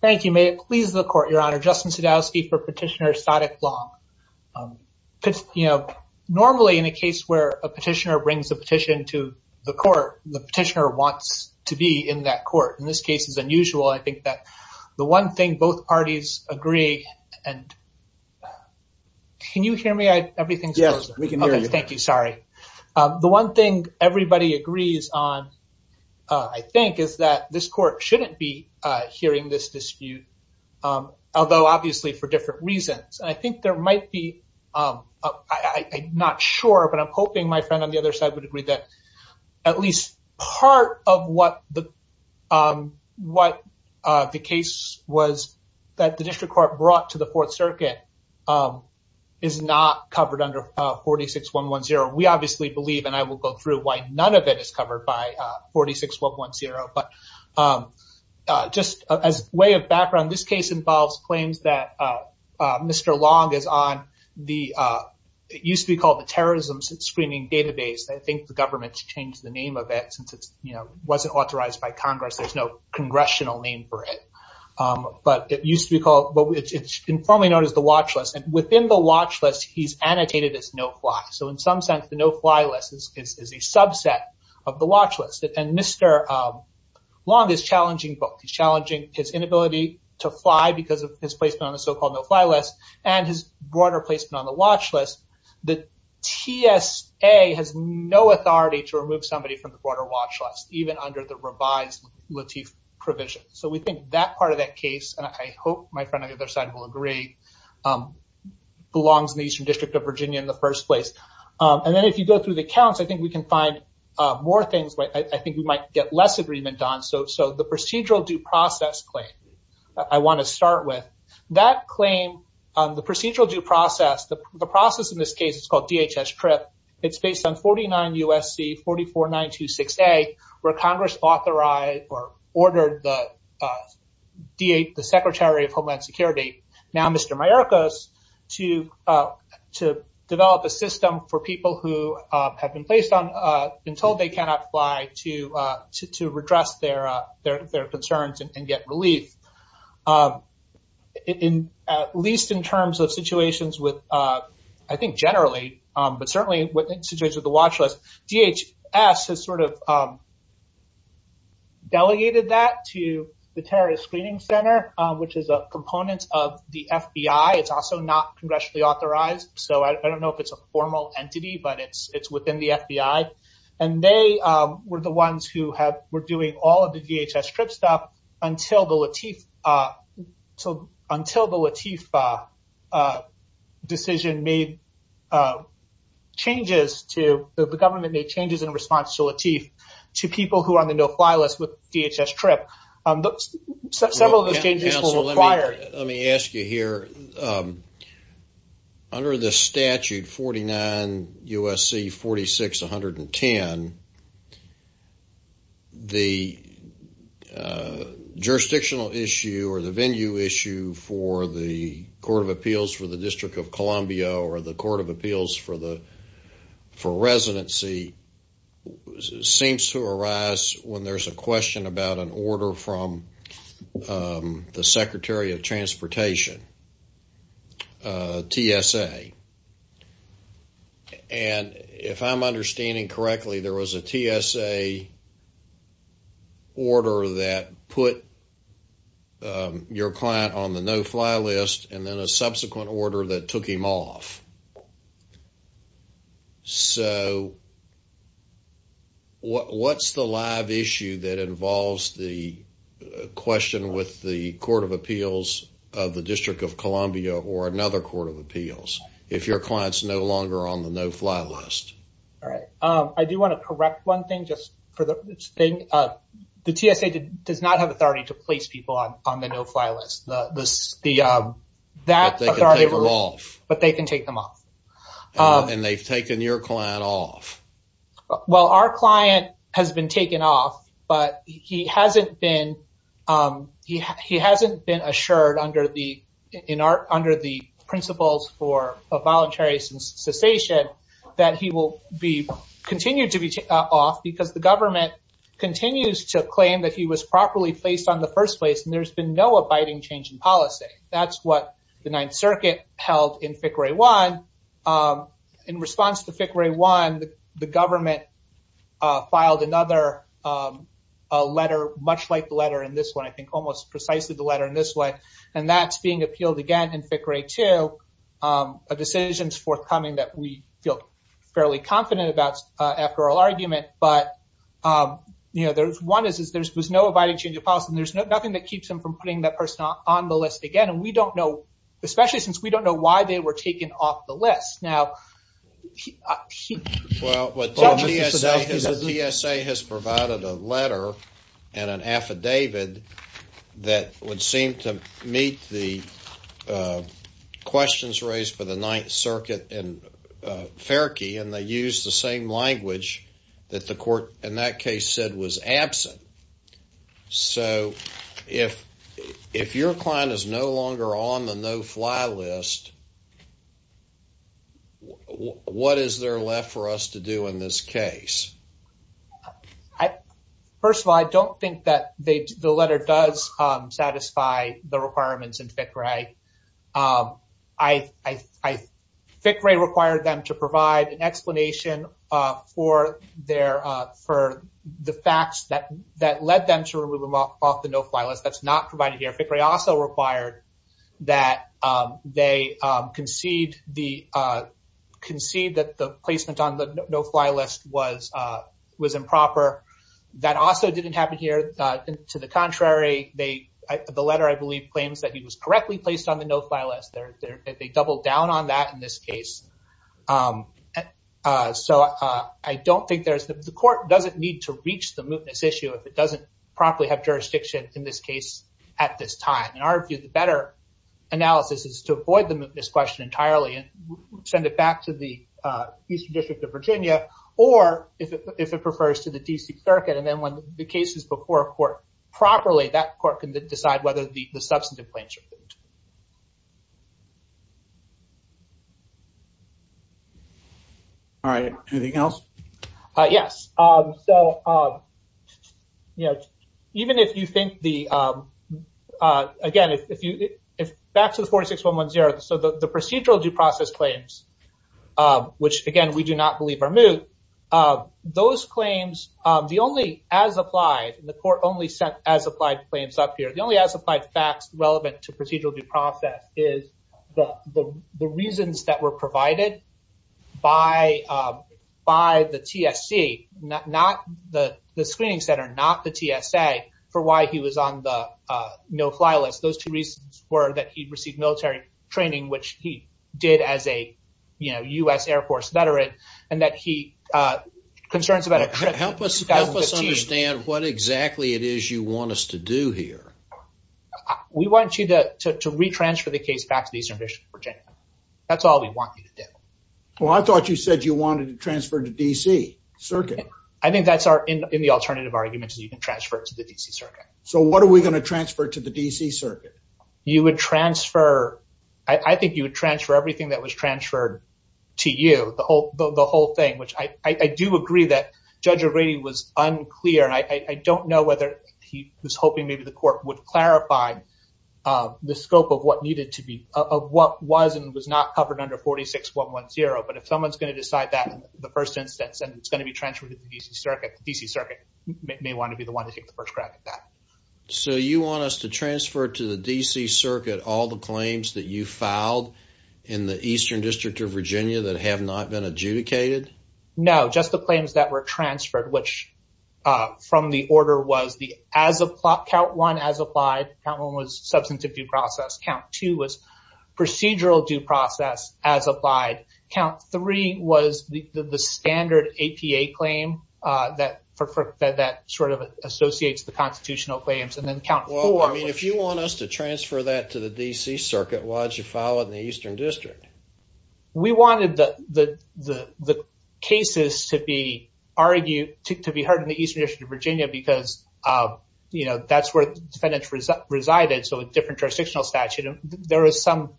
Thank you. May it please the Court, Your Honor. Justin Sadowski for Petitioner Saadiq Long. You know, normally in a case where a petitioner brings a petition to the court, the petitioner wants to be in that court. In this case, it's unusual. I think that the one thing both parties agree and... Can you hear me? Everything's... Yes, we can hear you. Thank you. Sorry. The one thing everybody agrees on, I think, is that this court shouldn't be hearing this dispute, although obviously for different reasons. I think there might be... I'm not sure, but I'm hoping my friend on the other side would agree that at least part of what the case was that the district court brought to the Fourth Circuit is not covered under 46-110. We obviously believe, and I will go through why none of it is covered by 46-110. But just as a way of background, this case involves claims that Mr. Long is on the... It used to be called the Terrorism Screening Database. I think the government changed the name of it since it wasn't authorized by the government. It used to be called... It's informally known as the Watch List. Within the Watch List, he's annotated as no-fly. In some sense, the no-fly list is a subset of the Watch List. Mr. Long is challenging both. He's challenging his inability to fly because of his placement on the so-called no-fly list and his broader placement on the Watch List. The TSA has no authority to remove somebody from the broader Watch List, even under the revised Lateef provision. We think that part of that case, and I hope my friend on the other side will agree, belongs in the Eastern District of Virginia in the first place. Then if you go through the counts, I think we can find more things. I think we might get less agreement on. The Procedural Due Process Claim, I want to start with. That claim, the Procedural Due Process, the process in this case is called DHS TRIP. It's based on 49 U.S.C. 44926A, where Congress authorized or ordered the Secretary of Homeland Security, now Mr. Mayorkas, to develop a system for people who have been told they cannot fly to redress their concerns and get relief. At least in terms of situations with, I think generally, but certainly within the Watch List, DHS has delegated that to the Terrorist Screening Center, which is a component of the FBI. It's also not congressionally authorized, so I don't know if it's a formal entity, but it's within the FBI. They were the ones who were doing all of the DHS TRIP stuff until the Latif decision made changes to, the government made changes in response to Latif, to people who are on the no-fly list with DHS TRIP. Several of those changes were required. Let me ask you here, under the statute 49 U.S.C. 46110, the jurisdictional issue or the venue issue for the Court of Appeals for the District of Columbia or the Court of Appeals for Residency seems to arise when there's a question about an order from the Secretary of Transportation, TSA, and if I'm understanding correctly, there was a TSA order that put your client on the no-fly list and then a subsequent order that took him off. So, what's the live issue that involves the question with the Court of Appeals of the District of Columbia or another Court of Appeals if your client's no longer on the no-fly list? All right. I do want to correct one thing just for the thing. The TSA does not have a no-fly list. And they've taken your client off. Well, our client has been taken off, but he hasn't been assured under the principles for a voluntary cessation that he will continue to be off because the government continues to claim that he was properly placed on the first place, and there's been no abiding change in policy. That's what the Ninth Circuit held in FICRE 1. In response to FICRE 1, the government filed another letter, much like the letter in this one, I think, almost precisely the letter in this one, and that's being appealed again in FICRE 2, a decision's forthcoming that we feel fairly confident about after all argument, but, you know, one is there's no abiding change of policy, and there's nothing that keeps him from putting that person on the list again, and we don't know, especially since we don't know why they were taken off the list. Now... Well, the TSA has provided a letter and an affidavit that would seem to meet the questions raised for the Ninth Circuit in FERCIE, and they use the same language that the court in that case said was absent. So, if your client is no longer on the no-fly list, what is there left for us to do in this case? First of all, I don't think that the letter does satisfy the requirements in FICRE. FICRE required them to provide an explanation for the facts that led them to remove him off the no-fly list. That's not provided here. FICRE also required that they concede that the placement on the no-fly list was improper. That also didn't happen here. To the contrary, the letter, I believe, that he was correctly placed on the no-fly list, they doubled down on that in this case. So, I don't think there's... The court doesn't need to reach the mootness issue if it doesn't properly have jurisdiction in this case at this time. In our view, the better analysis is to avoid the mootness question entirely and send it back to the Eastern District of Virginia, or if it refers to the D.C. Circuit, and then when the case is before a court properly, that court can decide whether the substantive claims are moot. All right. Anything else? Yes. So, even if you think the... Again, back to the 46110, so the procedural due process claims, which again, we do not believe are moot, those claims, the only as-applied, and the court only applied claims up here, the only as-applied facts relevant to procedural due process is the reasons that were provided by the TSC, not the screening center, not the TSA, for why he was on the no-fly list. Those two reasons were that he received military training, which he did as a U.S. Air Force veteran, and that he... Concerns about a trip to 2015. What exactly it is you want us to do here? We want you to re-transfer the case back to the Eastern District of Virginia. That's all we want you to do. Well, I thought you said you wanted to transfer to D.C. Circuit. I think that's in the alternative argument, is you can transfer it to the D.C. Circuit. So, what are we going to transfer to the D.C. Circuit? You would transfer... I think you would transfer everything that was transferred to you, the whole thing, which I do agree that Judge O'Ready was unclear. I don't know whether he was hoping maybe the court would clarify the scope of what needed to be... of what was and was not covered under 46110, but if someone's going to decide that in the first instance, and it's going to be transferred to the D.C. Circuit, the D.C. Circuit may want to be the one to take the first crack at that. So, you want us to transfer to the D.C. that have not been adjudicated? No, just the claims that were transferred, which from the order was the... count one as applied, count one was substantive due process, count two was procedural due process as applied, count three was the standard APA claim that sort of associates the constitutional claims, and then count four... Well, I mean, if you want us to we wanted the cases to be argued... to be heard in the Eastern District of Virginia because that's where defendants resided, so a different jurisdictional statute. There was some...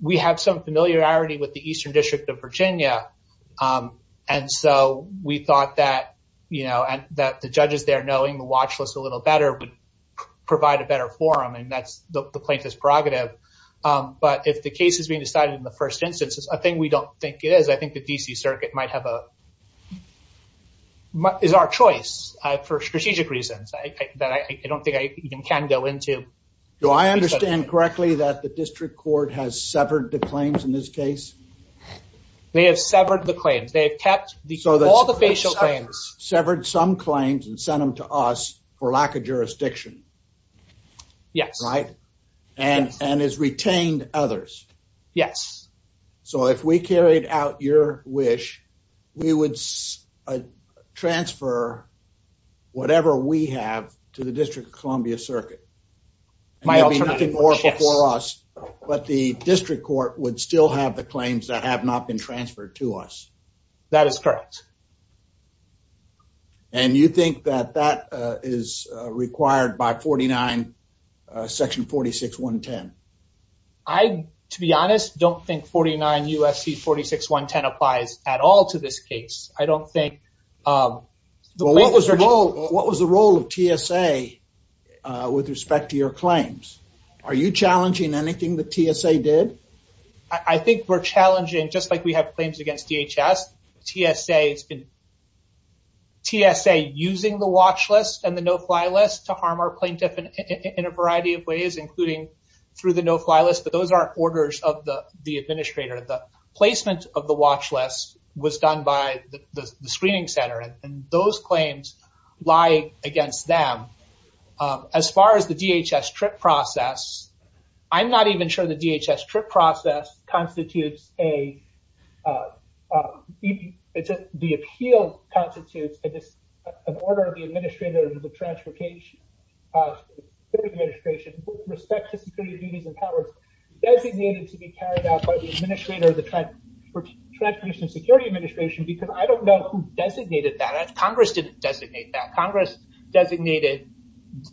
we have some familiarity with the Eastern District of Virginia, and so we thought that the judges there knowing the watch list a little better would provide a better forum, and that's the plaintiff's prerogative, but if the case is being decided in the first instance, I think we don't think it is. I think the D.C. Circuit might have a... is our choice for strategic reasons that I don't think I even can go into. Do I understand correctly that the District Court has severed the claims in this case? They have severed the claims. They have kept all the facial claims. Severed some claims and sent them to us for lack of jurisdiction. Yes. Right? And has retained others. Yes. So, if we carried out your wish, we would transfer whatever we have to the District of Columbia Circuit. My alternative... There would be nothing more before us, but the District Court would still have the claims that have not been transferred to us. That is correct. And you think that that is required by 49 section 46.110? I, to be honest, don't think 49 U.S.C. 46.110 applies at all to this case. I don't think... Well, what was the role of TSA with respect to your claims? Are you challenging anything the TSA did? I think we're challenging, just like we have claims against DHS, TSA has been... TSA using the watch list and the no-fly list to harm our plaintiff in a variety of ways, including through the no-fly list, but those are orders of the administrator. The placement of the watch list was done by the screening center, and those claims lie against them. As far as the DHS trip process, I'm not even sure the DHS trip process constitutes a... The appeal constitutes an order of the administrator of the transportation administration with respect to security duties and powers designated to be carried out by the administrator of the transportation security administration, because I don't know who designated that. Congress didn't designate that. Congress designated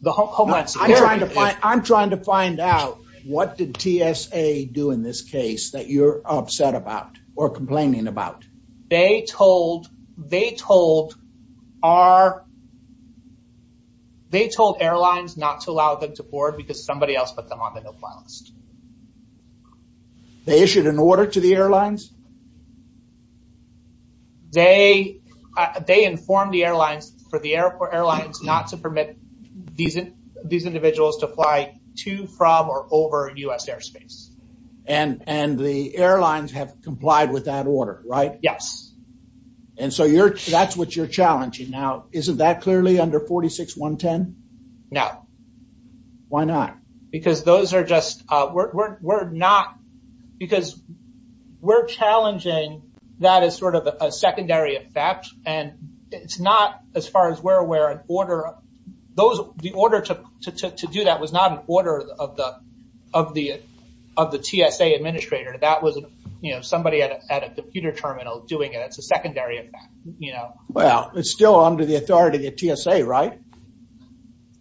the Homeland Security... I'm trying to find out what did TSA do in this case that you're upset about or complaining about? They told airlines not to allow them to board because somebody else put them on the no-fly list. They issued an order to the airlines? They informed the airlines for the airport airlines not to permit these individuals to fly to, from, or over U.S. airspace. And the airlines have complied with that order, right? Yes. And so that's what you're challenging now. Isn't that clearly under 46.110? No. Why not? Because those are just... We're not... Because we're challenging that as sort of a secondary effect. And it's not, as far as we're aware, an order... The order to do that was not an order of the TSA administrator. That was somebody at a computer terminal doing it. It's a secondary effect. Well, it's still under the authority of TSA, right?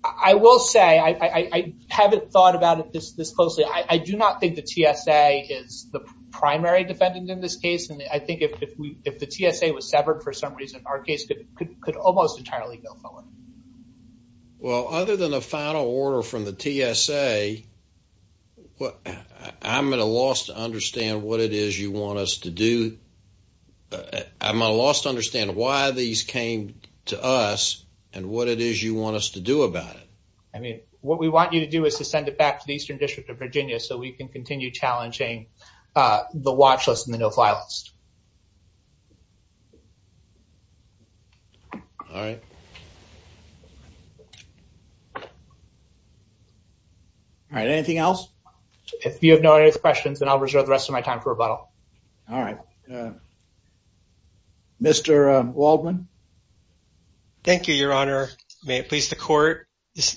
I will say, I haven't thought about it this closely. I do not think the TSA is the primary defendant in this case. And I think if the TSA was severed for some reason, our case could almost entirely go forward. Well, other than a final order from the TSA, what... I'm at a loss to understand what it is you want us to do. I'm at a loss to understand why these came to us and what it is you want us to do about it. I mean, what we want you to do is to send it back to the Eastern District of Virginia so we can continue challenging the watch list and the no-fly list. All right. All right. Anything else? If you have no other questions, then I'll reserve the rest of my time for rebuttal. All right. Mr. Waldman? Thank you, Your Honor. May it please the court.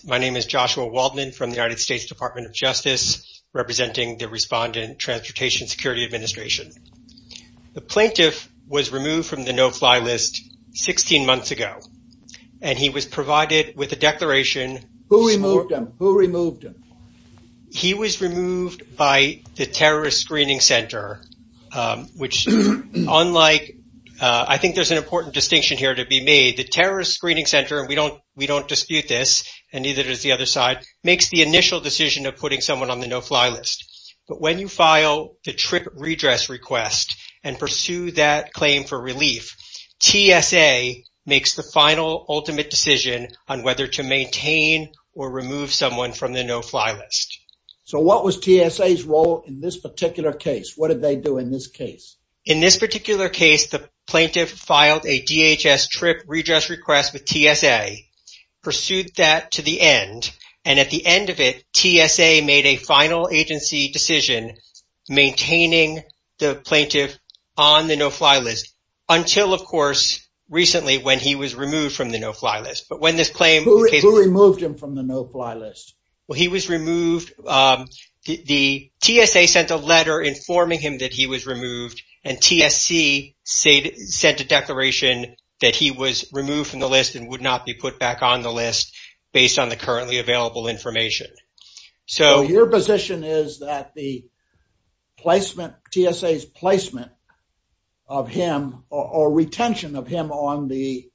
My name is Joshua Waldman from the United States Department of Justice, representing the Respondent Transportation Security Administration. The plaintiff was removed from the no-fly list 16 months ago, and he was provided with a declaration... Who removed him? Who removed him? He was removed by the Terrorist Screening Center, which unlike... I think there's an important distinction here to be made. The Terrorist Screening Center, and we don't dispute this, and neither does the other side, makes the initial decision of putting someone on the no-fly list. But when you file the trip redress request and pursue that claim for relief, TSA makes the final ultimate decision on whether to maintain or remove someone from the no-fly list. So what was TSA's role in this particular case? What did they do in this case? In this particular case, the plaintiff filed a DHS trip redress request with TSA, pursued that to the end, and at the end of it, TSA made a final agency decision maintaining the plaintiff on the no-fly list until, of course, recently when he was removed from the no-fly list. But when this claim... Who removed him from the no-fly list? Well, he was removed... The TSA sent a letter informing him that he was removed, and TSC sent a declaration that he was removed from the list and would not be put back on the list based on the currently available information. So your position is that the placement, TSA's placement of him or retention of him on the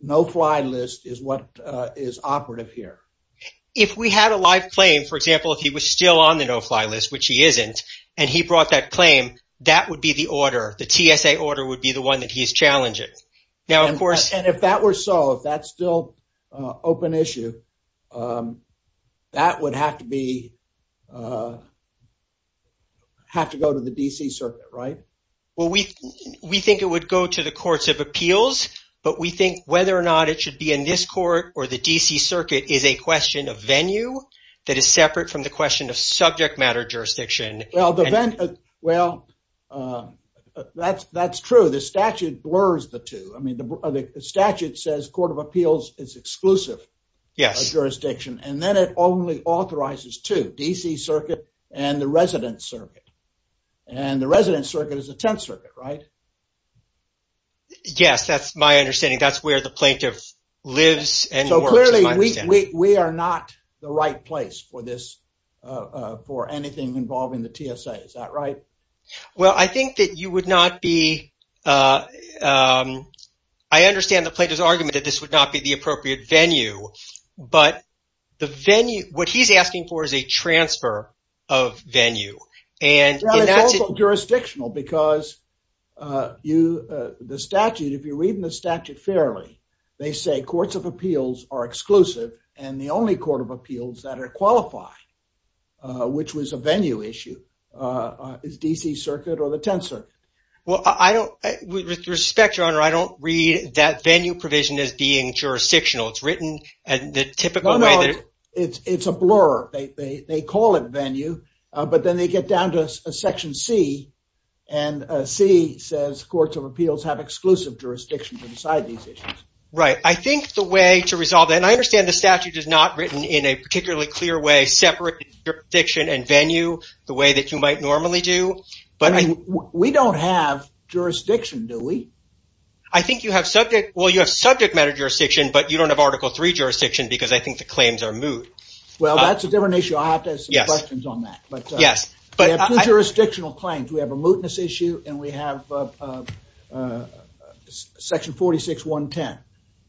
no-fly list is what is operative here? If we had a live claim, for example, if he was still on the no-fly list, which he isn't, and he brought that claim, that would be the order. The TSA order would be the one that he's challenging. Now, of course... And if that were so, if that's still open issue, that would have to be... Have to go to the DC circuit, right? Well, we think it would go to the courts of appeals, but we think whether or not it should be in this court or the DC circuit is a question of venue that is separate from the question of venue. Well, that's true. The statute blurs the two. I mean, the statute says court of appeals is exclusive jurisdiction, and then it only authorizes two, DC circuit and the resident circuit. And the resident circuit is the 10th circuit, right? Yes, that's my understanding. That's where the plaintiff lives and works, we are not the right place for this, for anything involving the TSA. Is that right? Well, I think that you would not be... I understand the plaintiff's argument that this would not be the appropriate venue, but the venue... What he's asking for is a transfer of venue. And that's... Well, it's also jurisdictional because you... The statute, if you read in the statute fairly, they say courts of appeals are exclusive and the only court of appeals that are qualified, which was a venue issue, is DC circuit or the 10th circuit. Well, I don't... With respect, Your Honor, I don't read that venue provision as being jurisdictional. It's written in the typical way that- No, no. It's a blur. They call it venue, but then they get down to section C, and C says courts of appeals have exclusive jurisdiction to decide these issues. Right. I think the way to resolve that, and I understand the statute is not written in a particularly clear way, separate jurisdiction and venue the way that you might normally do, but I... We don't have jurisdiction, do we? I think you have subject... Well, you have subject matter jurisdiction, but you don't have Article III jurisdiction because I think the claims are moot. Well, that's a different issue. I'll have to ask some questions on that, but- Yes. But I... We have two jurisdictional claims. We have a mootness issue and we have section 46.110.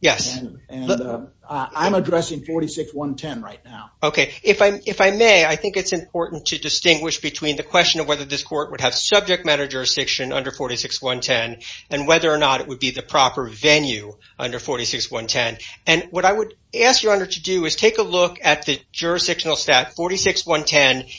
Yes. And I'm addressing 46.110 right now. Okay. If I may, I think it's important to distinguish between the question of whether this court would have subject matter jurisdiction under 46.110 and whether or not it would be the proper venue under 46.110. And what I would ask your honor to do is take a look at the jurisdictional stat 46.110.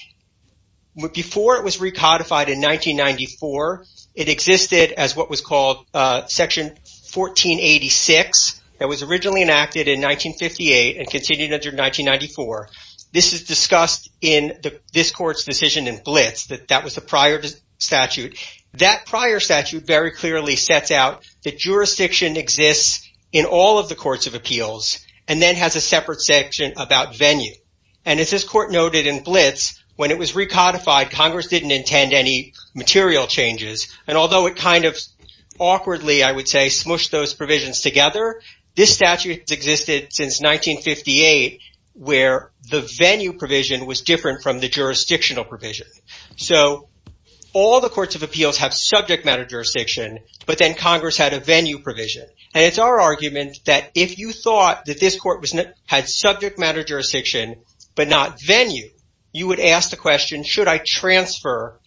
Before it was recodified in 1994, it existed as what was called section 1486 that was originally enacted in 1958 and continued under 1994. This is discussed in this court's decision in Blitz, that that was the prior statute. That prior statute very clearly sets out that jurisdiction exists in all of the courts of appeals and then has a separate section about venue. And as this court noted in Blitz, when it was recodified, Congress didn't intend any material changes. And although it kind of awkwardly, I would say, smushed those provisions together, this statute has existed since 1958 where the venue provision was different from the jurisdictional provision. So all the courts of appeals have subject matter jurisdiction, but then Congress had a venue provision. And it's our argument that if you thought that this court had subject matter jurisdiction, but not venue, you would ask the question, should I transfer?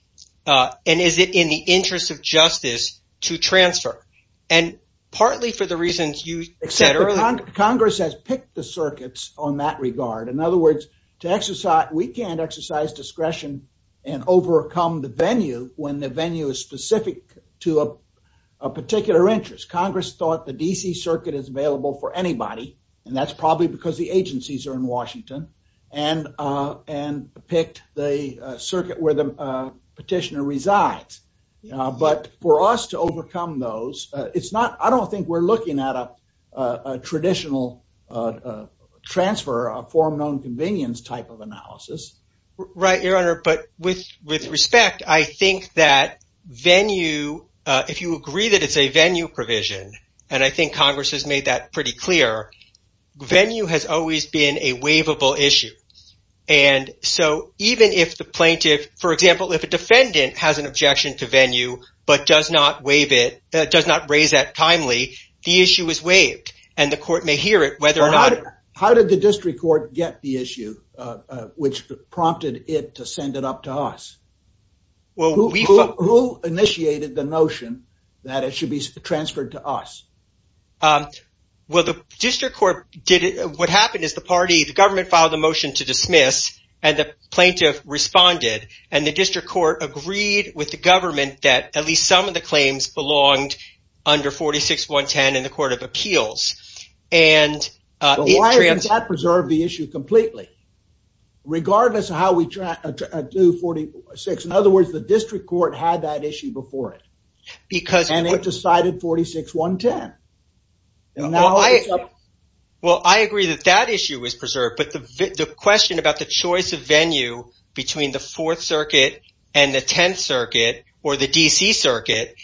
And is it in the interest of justice to transfer? And partly for the reasons you said earlier. Congress has picked the circuits on that regard. In other words, we can't exercise discretion and overcome the venue when the venue is specific to a particular interest. Congress thought the D.C. circuit is available for anybody, and that's probably because the agencies are in Washington, and picked the circuit where the petitioner resides. But for us to overcome those, it's not, I don't think we're looking at a traditional transfer, a form known convenience type of analysis. Right, your honor. But with respect, I think that venue, if you agree that it's a venue provision, and I think Congress has made that pretty clear, venue has always been a waivable issue. And so even if the plaintiff, for example, if a defendant has an objection to venue, but does not waive it, does not raise that timely, the issue is waived, and the court may hear it How did the district court get the issue, which prompted it to send it up to us? Who initiated the notion that it should be transferred to us? Well, the district court did it, what happened is the party, the government filed a motion to dismiss, and the plaintiff responded, and the district court agreed with the government that at least some of the claims belonged under 46.110 in the court of appeals. And why didn't that preserve the issue completely? Regardless of how we do 46, in other words, the district court had that issue before it, and it decided 46.110. Well, I agree that that issue was preserved, but the question about the choice of venue between the 4th circuit and the 10th circuit, or the DC circuit,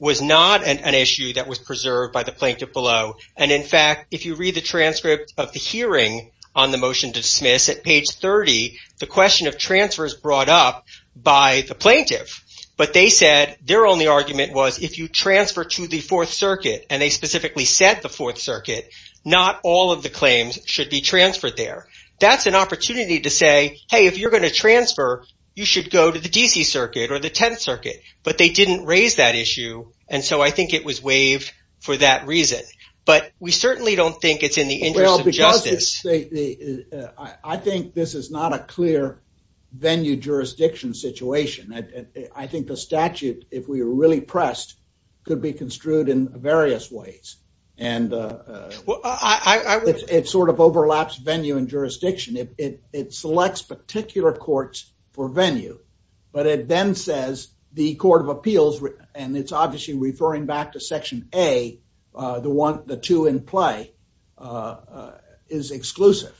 was not an issue that was preserved by the plaintiff below. And in fact, if you read the transcript of the hearing on the motion to dismiss at page 30, the question of transfer is brought up by the plaintiff, but they said their only argument was if you transfer to the 4th circuit, and they specifically said the 4th circuit, not all of the claims should be transferred there. That's an opportunity to say, hey, if you're going to transfer, you should go to the DC circuit or the 10th circuit, but they didn't raise that issue, and so I think it was waived for that reason. But we certainly don't think it's in the interest of justice. Well, because I think this is not a clear venue jurisdiction situation. I think the statute, if we were really pressed, could be construed in various ways, and it sort of overlaps venue and jurisdiction. It selects particular courts for venue, but it then says the court of appeals, and it's obviously referring back to section A, the two in play, is exclusive.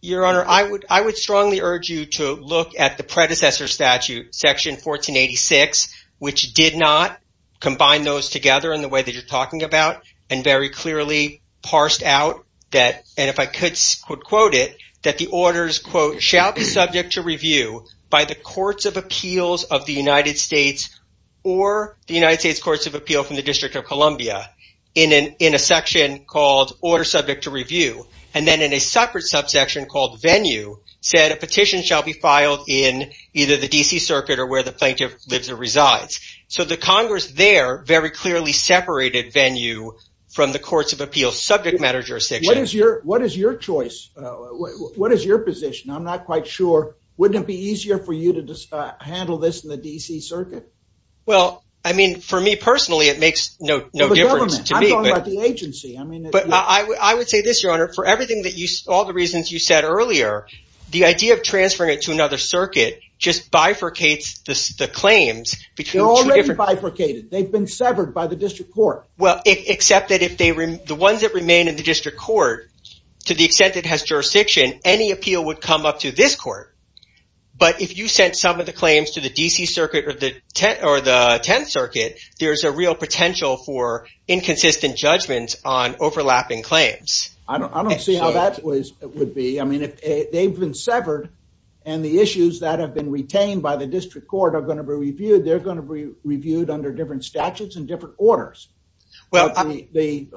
Your Honor, I would strongly urge you to look at the predecessor statute, section 1486, which did not combine those together in the way that you're talking about, and very clearly parsed out that, and if I could quote it, that the orders, quote, shall be subject to review by the courts of appeals of the United States or the United States courts of appeal from the District of Columbia in a section called order subject to review, and then in a separate subsection called venue said a petition shall be filed in either the DC circuit or where the plaintiff lives or resides. So the Congress there very clearly separated venue from the courts of subject matter jurisdiction. What is your choice? What is your position? I'm not quite sure. Wouldn't it be easier for you to handle this in the DC circuit? Well, I mean, for me personally, it makes no difference to me, but I would say this, Your Honor, for all the reasons you said earlier, the idea of transferring it to another circuit just bifurcates the claims. They're already bifurcated. They've severed by the district court. Well, except that if the ones that remain in the district court, to the extent it has jurisdiction, any appeal would come up to this court, but if you sent some of the claims to the DC circuit or the 10th circuit, there's a real potential for inconsistent judgments on overlapping claims. I don't see how that would be. I mean, if they've been severed and the issues that have been retained by the district court are going to be reviewed, they're going to be reviewed under different statutes and different orders. Well, it'll be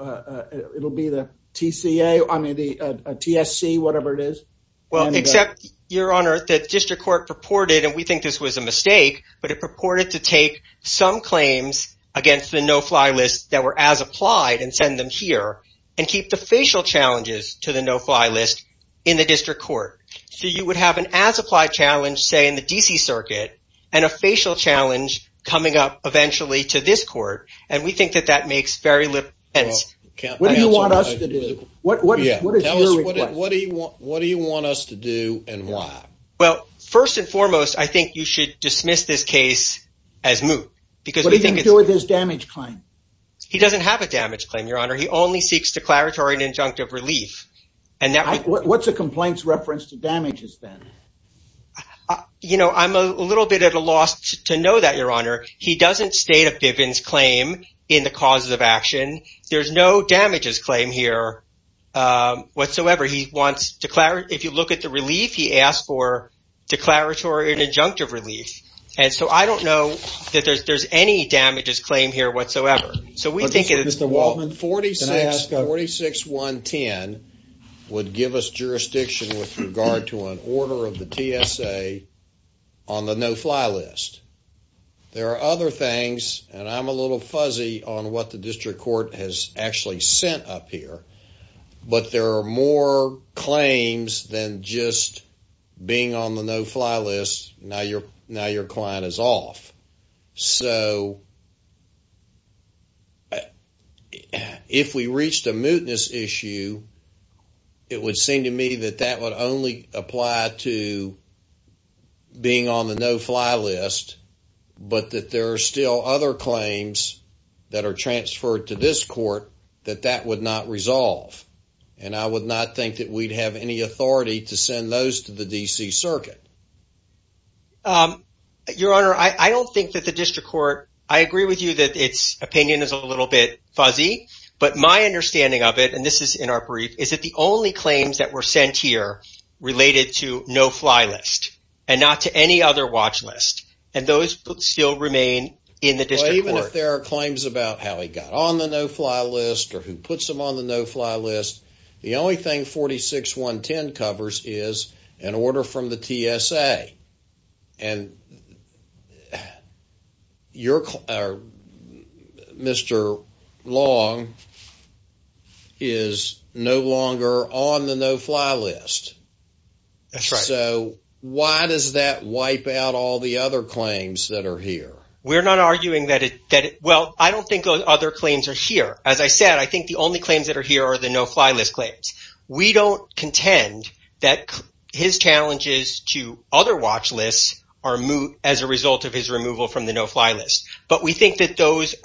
the TCA, I mean, the TSC, whatever it is. Well, except Your Honor, the district court purported, and we think this was a mistake, but it purported to take some claims against the no-fly list that were as applied and send them here and keep the facial challenges to the no-fly list in the district court. So you would have an as-applied challenge, say, in the DC circuit and a facial challenge coming up eventually to this court, and we think that that makes very little sense. What do you want us to do? What is your request? What do you want us to do and why? Well, first and foremost, I think you should dismiss this case as moot because we think it's... What do you think to do with his damage claim? He doesn't have a damage claim, Your Honor. He only seeks declaratory and injunctive relief. And that... What's a complaint's reference to damages then? You know, I'm a little bit at a loss to know that, Your Honor. He doesn't state a Bivens claim in the causes of action. There's no damages claim here whatsoever. He wants... If you look at the relief, he asked for declaratory and injunctive relief. And so I don't know that there's any damages claim here whatsoever. So we think... Mr. Waltman, can I ask a... 46-110 would give us jurisdiction with regard to an order of the TSA on the no-fly list. There are other things, and I'm a little fuzzy on what the district court has actually sent up here, but there are more claims. If we reached a mootness issue, it would seem to me that that would only apply to being on the no-fly list, but that there are still other claims that are transferred to this court that that would not resolve. And I would not think that we'd have any authority to send those to the I agree with you that its opinion is a little bit fuzzy, but my understanding of it, and this is in our brief, is that the only claims that were sent here related to no-fly list and not to any other watch list, and those still remain in the district court. Even if there are claims about how he got on the no-fly list or who puts him on the no-fly list, the only thing 46-110 covers is an order from the TSA, and Mr. Long is no longer on the no-fly list. So why does that wipe out all the other claims that are here? We're not arguing that it, well, I don't think those other claims are here. As I said, I think the only claims that are here are the no-fly list claims. We don't contend that his challenges to other watch lists are moot as a result of his removal from the no-fly list, but we think that those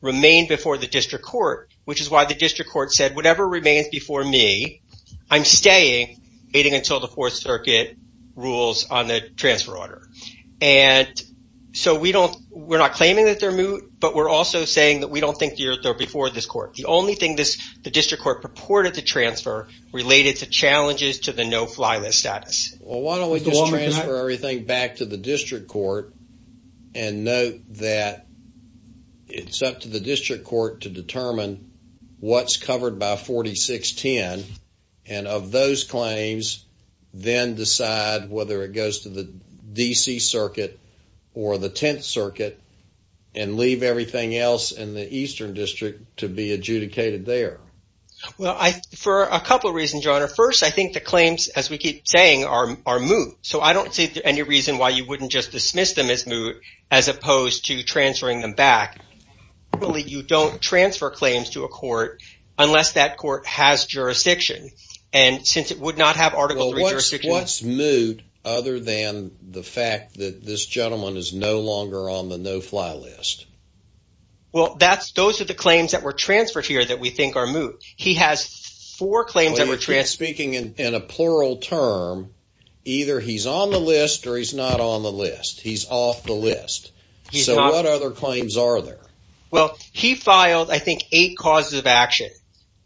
remain before the district court, which is why the district court said whatever remains before me, I'm staying waiting until the Fourth Circuit rules on the transfer order. And so we don't, we're not claiming that they're moot, but we're also saying that we don't think they're before this court. The only thing the district court purported to transfer related to challenges to the no-fly list status. Well, why don't we just transfer everything back to the district court and note that it's up to the district court to determine what's covered by 46-10 and of those claims, then decide whether it goes to the DC Circuit or the Tenth Circuit and leave everything else in the Eastern District to be adjudicated there. Well, for a couple of reasons, Your Honor. First, I think the claims, as we keep saying, are moot. So I don't see any reason why you wouldn't just dismiss them as moot, as opposed to transferring them back. You don't transfer claims to a court unless that court has jurisdiction. And since it would not have Article III jurisdiction. What's moot other than the fact that this gentleman is no longer on the no-fly list? Well, those are the claims that were transferred here that we think are moot. He has four claims that were transferred. Speaking in a plural term, either he's on the list or he's not on the list. He's off the list. So what other claims are there? Well, he filed, I think, eight causes of action.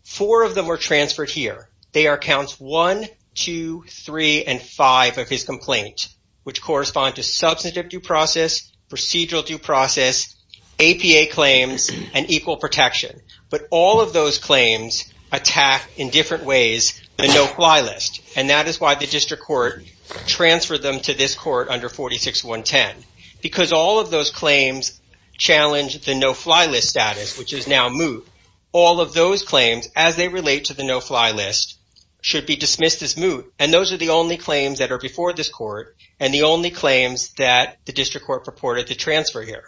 Four of them were transferred here. They are counts one, two, three, and five of his complaint, which correspond to substantive due process, procedural due process, APA claims, and equal protection. But all of those claims attack, in different ways, the no-fly list. And that is why the district court transferred them to this court under 46110. Because all of those claims challenge the no-fly list status, which is now moot. All of those claims, as they relate to the no-fly list, should be dismissed as moot. And those are the only claims that are before this court, and the only claims that the district court purported to transfer here.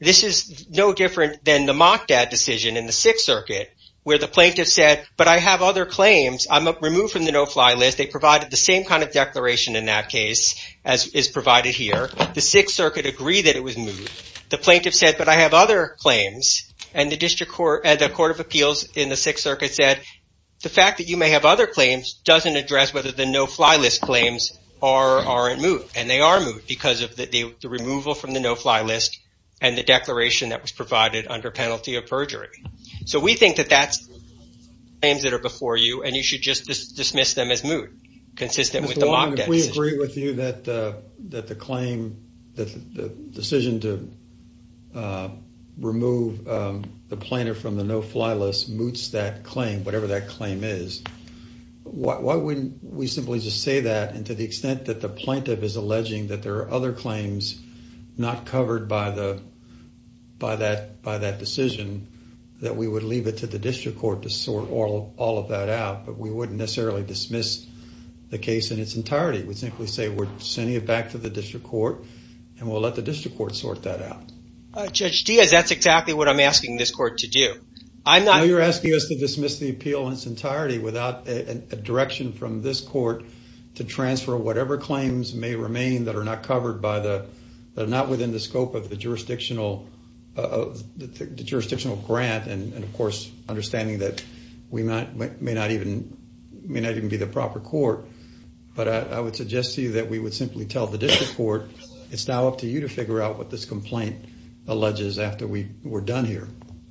This is no different than the Mockdad decision in the Sixth Circuit, where the plaintiff said, but I have other claims. I'm removed from the no-fly list. They provided the same kind of declaration in that case as is provided here. The Sixth Circuit agreed that it was moot. The plaintiff said, but I have other claims. And the court of appeals in the Sixth Circuit said, the fact that you may have other claims doesn't address whether the no-fly list claims are in moot. And they are moot, because of the removal from the no-fly list, and the declaration that was provided under penalty of perjury. So we think that that's the claims that are before you, and you should just dismiss them as moot, consistent with the Mockdad decision. If we agree with you that the decision to remove the plaintiff from the no-fly list moots that claim, whatever that claim is, why wouldn't we simply just say that, and to the extent that the plaintiff is alleging that there are other claims not covered by that decision, that we would leave it to the district court to sort all of that out. But we wouldn't necessarily dismiss the case in its entirety. We'd simply say, we're sending it back to the district court, and we'll let the district court sort that out. Judge Diaz, that's exactly what I'm asking this court to do. I'm not... You're asking us to dismiss the appeal in its entirety without a direction from this court to transfer whatever claims may remain that are not covered by the, that are not within the scope of the jurisdictional grant, and of course, understanding that we may not even be the proper court. But I would suggest to you that we would simply tell the district court, it's now up to you to figure out what this complaint alleges after we're done here.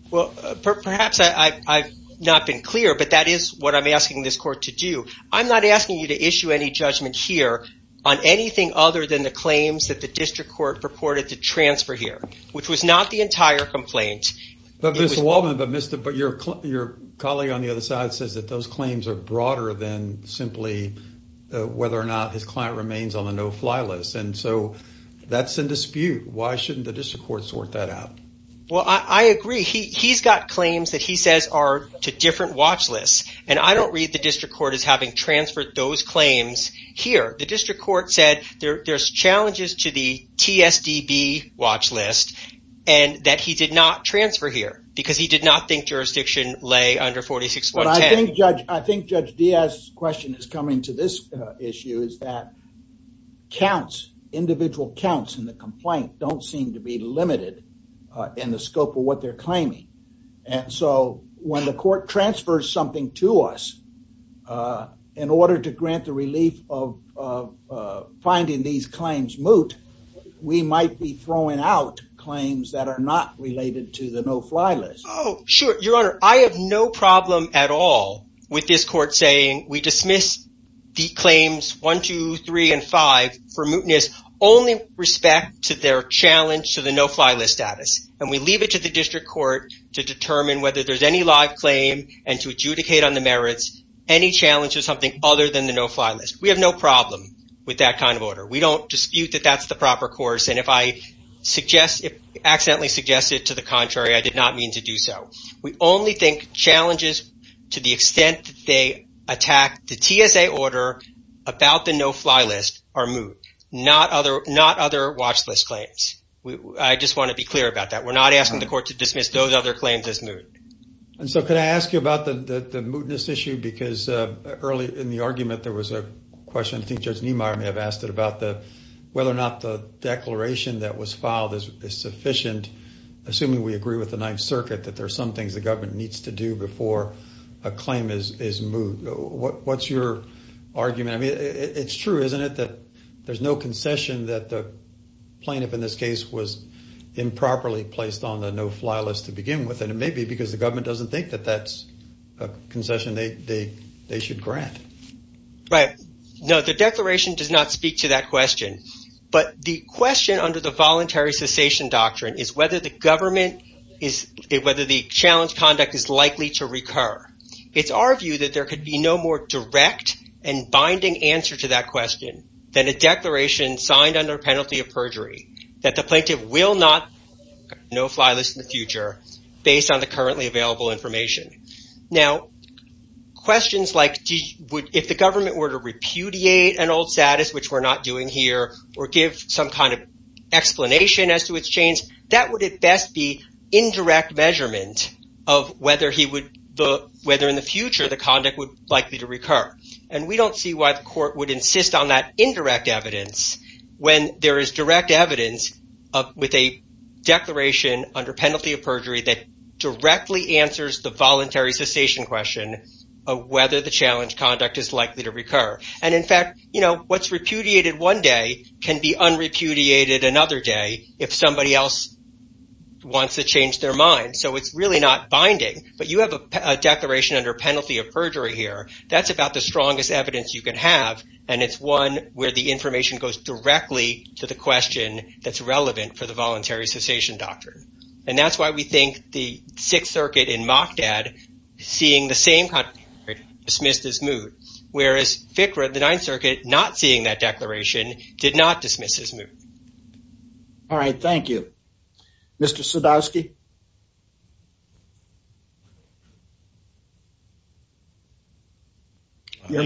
Well, perhaps I've not been clear, but that is what I'm asking this court to do. I'm not asking you to issue any judgment here on anything other than the claims that the district court purported to transfer here, which was not the entire complaint. But Mr. Waldman, but your colleague on the other side says that those claims are broader than simply whether or not his client remains on the no-fly list, and so that's in dispute. Why shouldn't the district court sort that out? Well, I agree. He's got claims that he says are to different watch lists, and I don't read the district court as having transferred those claims here. The district court said there's challenges to the TSDB watch list, and that he did not transfer here because he did not think jurisdiction lay under 46.10. Well, I think, Judge, I think Judge Diaz's question is coming to this issue is that counts, individual counts in the complaint don't seem to be limited in the scope of what they're claiming, and so when the court transfers something to us in order to grant the relief of finding these claims moot, we might be throwing out claims that are not related to the no-fly list. Oh, sure, Your Honor. I have no problem at all with this court saying we dismiss the claims 1, 2, 3, and 5 for mootness only with respect to their challenge to the no-fly list status, and we leave it to the district court to determine whether there's any live claim and to adjudicate on the merits any challenge to something other than the no-fly list. We have no problem with that kind of order. We don't dispute that that's the proper course, and if I accidentally suggested to the contrary, I did not mean to do so. We only think challenges to the extent they attack the TSA order about the no-fly list are moot, not other watch list claims. I just want to be clear about that. We're not asking the court to dismiss those other claims as moot. And so could I ask you about the mootness issue, because early in the argument, there was a question, I think Judge Niemeyer may have asked it, about whether or not the declaration that was filed is sufficient, assuming we agree with Ninth Circuit, that there are some things the government needs to do before a claim is moot. What's your argument? I mean, it's true, isn't it, that there's no concession that the plaintiff in this case was improperly placed on the no-fly list to begin with, and it may be because the government doesn't think that that's a concession they should grant. Right. No, the declaration does not speak to that question, but the question under the voluntary cessation doctrine is whether the challenge conduct is likely to recur. It's our view that there could be no more direct and binding answer to that question than a declaration signed under penalty of perjury, that the plaintiff will not no-fly list in the future, based on the currently available information. Now, questions like if the government were to repudiate an old status, which we're not doing here, or give some explanation as to its change, that would at best be indirect measurement of whether in the future the conduct would likely to recur. And we don't see why the court would insist on that indirect evidence when there is direct evidence with a declaration under penalty of perjury that directly answers the voluntary cessation question of whether the challenge conduct is likely to be repudiated another day if somebody else wants to change their mind. So it's really not binding, but you have a declaration under penalty of perjury here. That's about the strongest evidence you can have, and it's one where the information goes directly to the question that's relevant for the voluntary cessation doctrine. And that's why we think the Sixth Circuit in Machdad, seeing the same conduct, dismissed his moot, whereas FICRA, the Ninth Circuit, not seeing that declaration, did not dismiss his moot. All right, thank you. Mr. Sadowski? I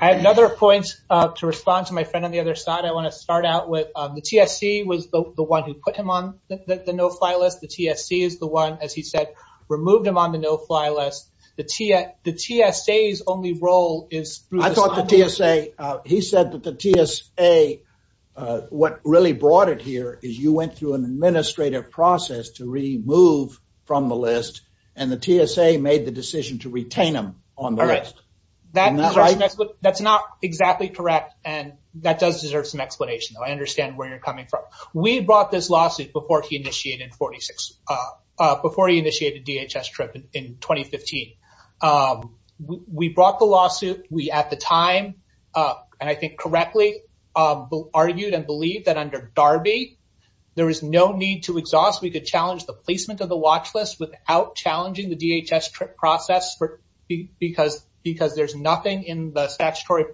have another point to respond to my friend on the other side. I want to start out with the TSC was the one who put him on the no-fly list. The TSC is the one, as he said, removed him on the no-fly list. The TSA's only role is— I thought the TSA, he said that the TSA, what really brought it here is you went through an administrative process to remove from the list, and the TSA made the decision to retain him on the list. That's not exactly correct, and that does deserve some explanation. I understand where you're coming from. We brought this lawsuit before he initiated DHS TRIP in 2015. We brought the lawsuit. We, at the time, and I think correctly, argued and believed that under DARBY, there is no need to exhaust. We could challenge the placement of the watch list without challenging the DHS TRIP process because there's nothing in the statutory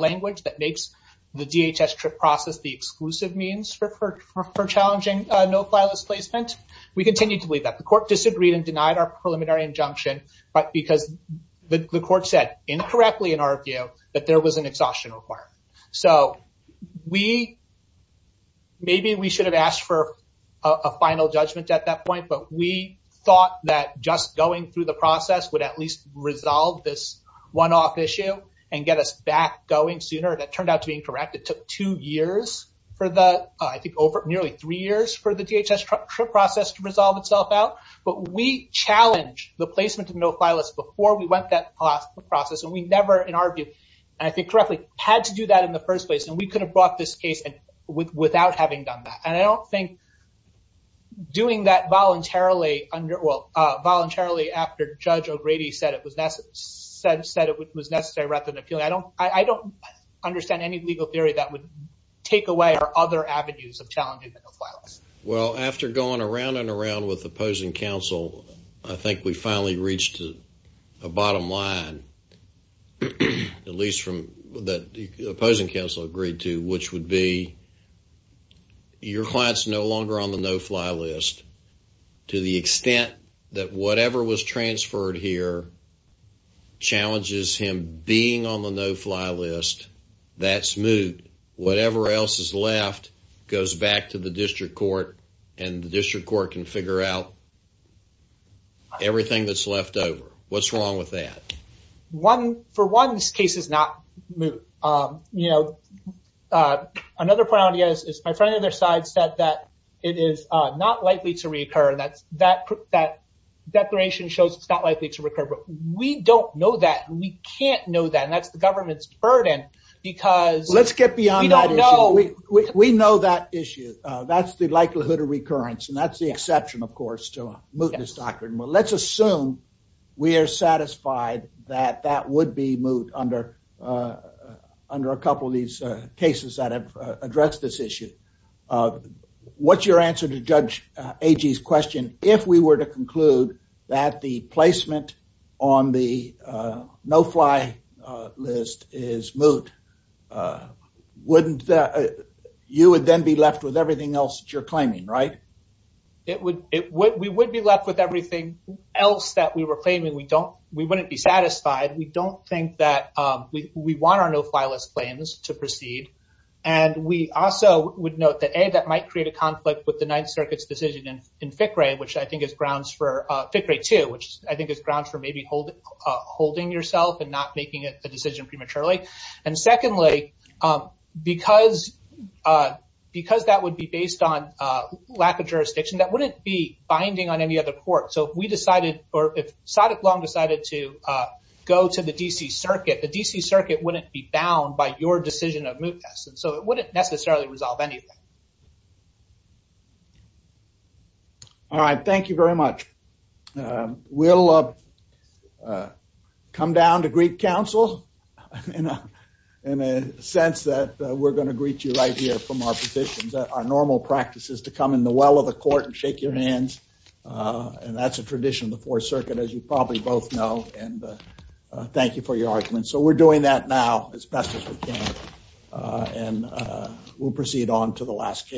language that makes the DHS TRIP process the exclusive means for challenging no-fly list placement. We continue to believe that. The court disagreed and denied our preliminary injunction because the court said incorrectly in our view that there was an exhaustion requirement. Maybe we should have asked for a final judgment at that point, but we thought that just going through the process would at least resolve this one-off issue and get us back going sooner. That turned out to be incorrect. It took nearly three years for the DHS TRIP process to resolve itself out, but we challenged the placement of no-fly list before we went that process. We never, in our view, and I think correctly, had to do that in the first place. We could have brought this case without having done that. I don't think doing that voluntarily after Judge O'Grady said it was necessary rather I don't understand any legal theory that would take away our other avenues of challenging the no-fly list. Well, after going around and around with opposing counsel, I think we finally reached a bottom line, at least from what the opposing counsel agreed to, which would be your client's no longer on the no-fly list to the extent that whatever was transferred here challenges him being on the no-fly list. That's moot. Whatever else is left goes back to the district court, and the district court can figure out everything that's left over. What's wrong with that? For one, this case is not moot. Another point I want to get at is my friend on their side said that it is not likely to reoccur. That declaration shows it's not likely to reoccur. We don't know that. We can't know that, and that's the government's burden. Let's get beyond that issue. We know that issue. That's the likelihood of recurrence, and that's the exception, of course, to a mootness doctrine. Let's assume we are satisfied that that would be moot under a couple of these cases that have addressed this issue. What's your answer to Judge Agee's question? If we were to conclude that the placement on the no-fly list is moot, you would then be left with everything else that you're claiming, right? It would. We would be left with everything else that we were claiming. We wouldn't be satisfied. We don't think that we want our no-fly list claims to proceed. We also would note that, A, that might create a conflict with the Ninth Circuit's decision in FICRE 2, which I think is grounds for maybe holding yourself and not making a decision prematurely. Secondly, because that would be based on lack of jurisdiction, that wouldn't be binding on any other court. If Sadiq Long decided to go to the D.C. Circuit, the D.C. Circuit wouldn't be bound by your decision of mootness, and so it wouldn't necessarily resolve anything. All right. Thank you very much. We'll come down to greet counsel in a sense that we're going to greet you right here from our positions. Our normal practice is to come in the well of the court and and that's a tradition of the Fourth Circuit, as you probably both know, and thank you for your argument. So we're doing that now as best as we can, and we'll proceed on to the last case.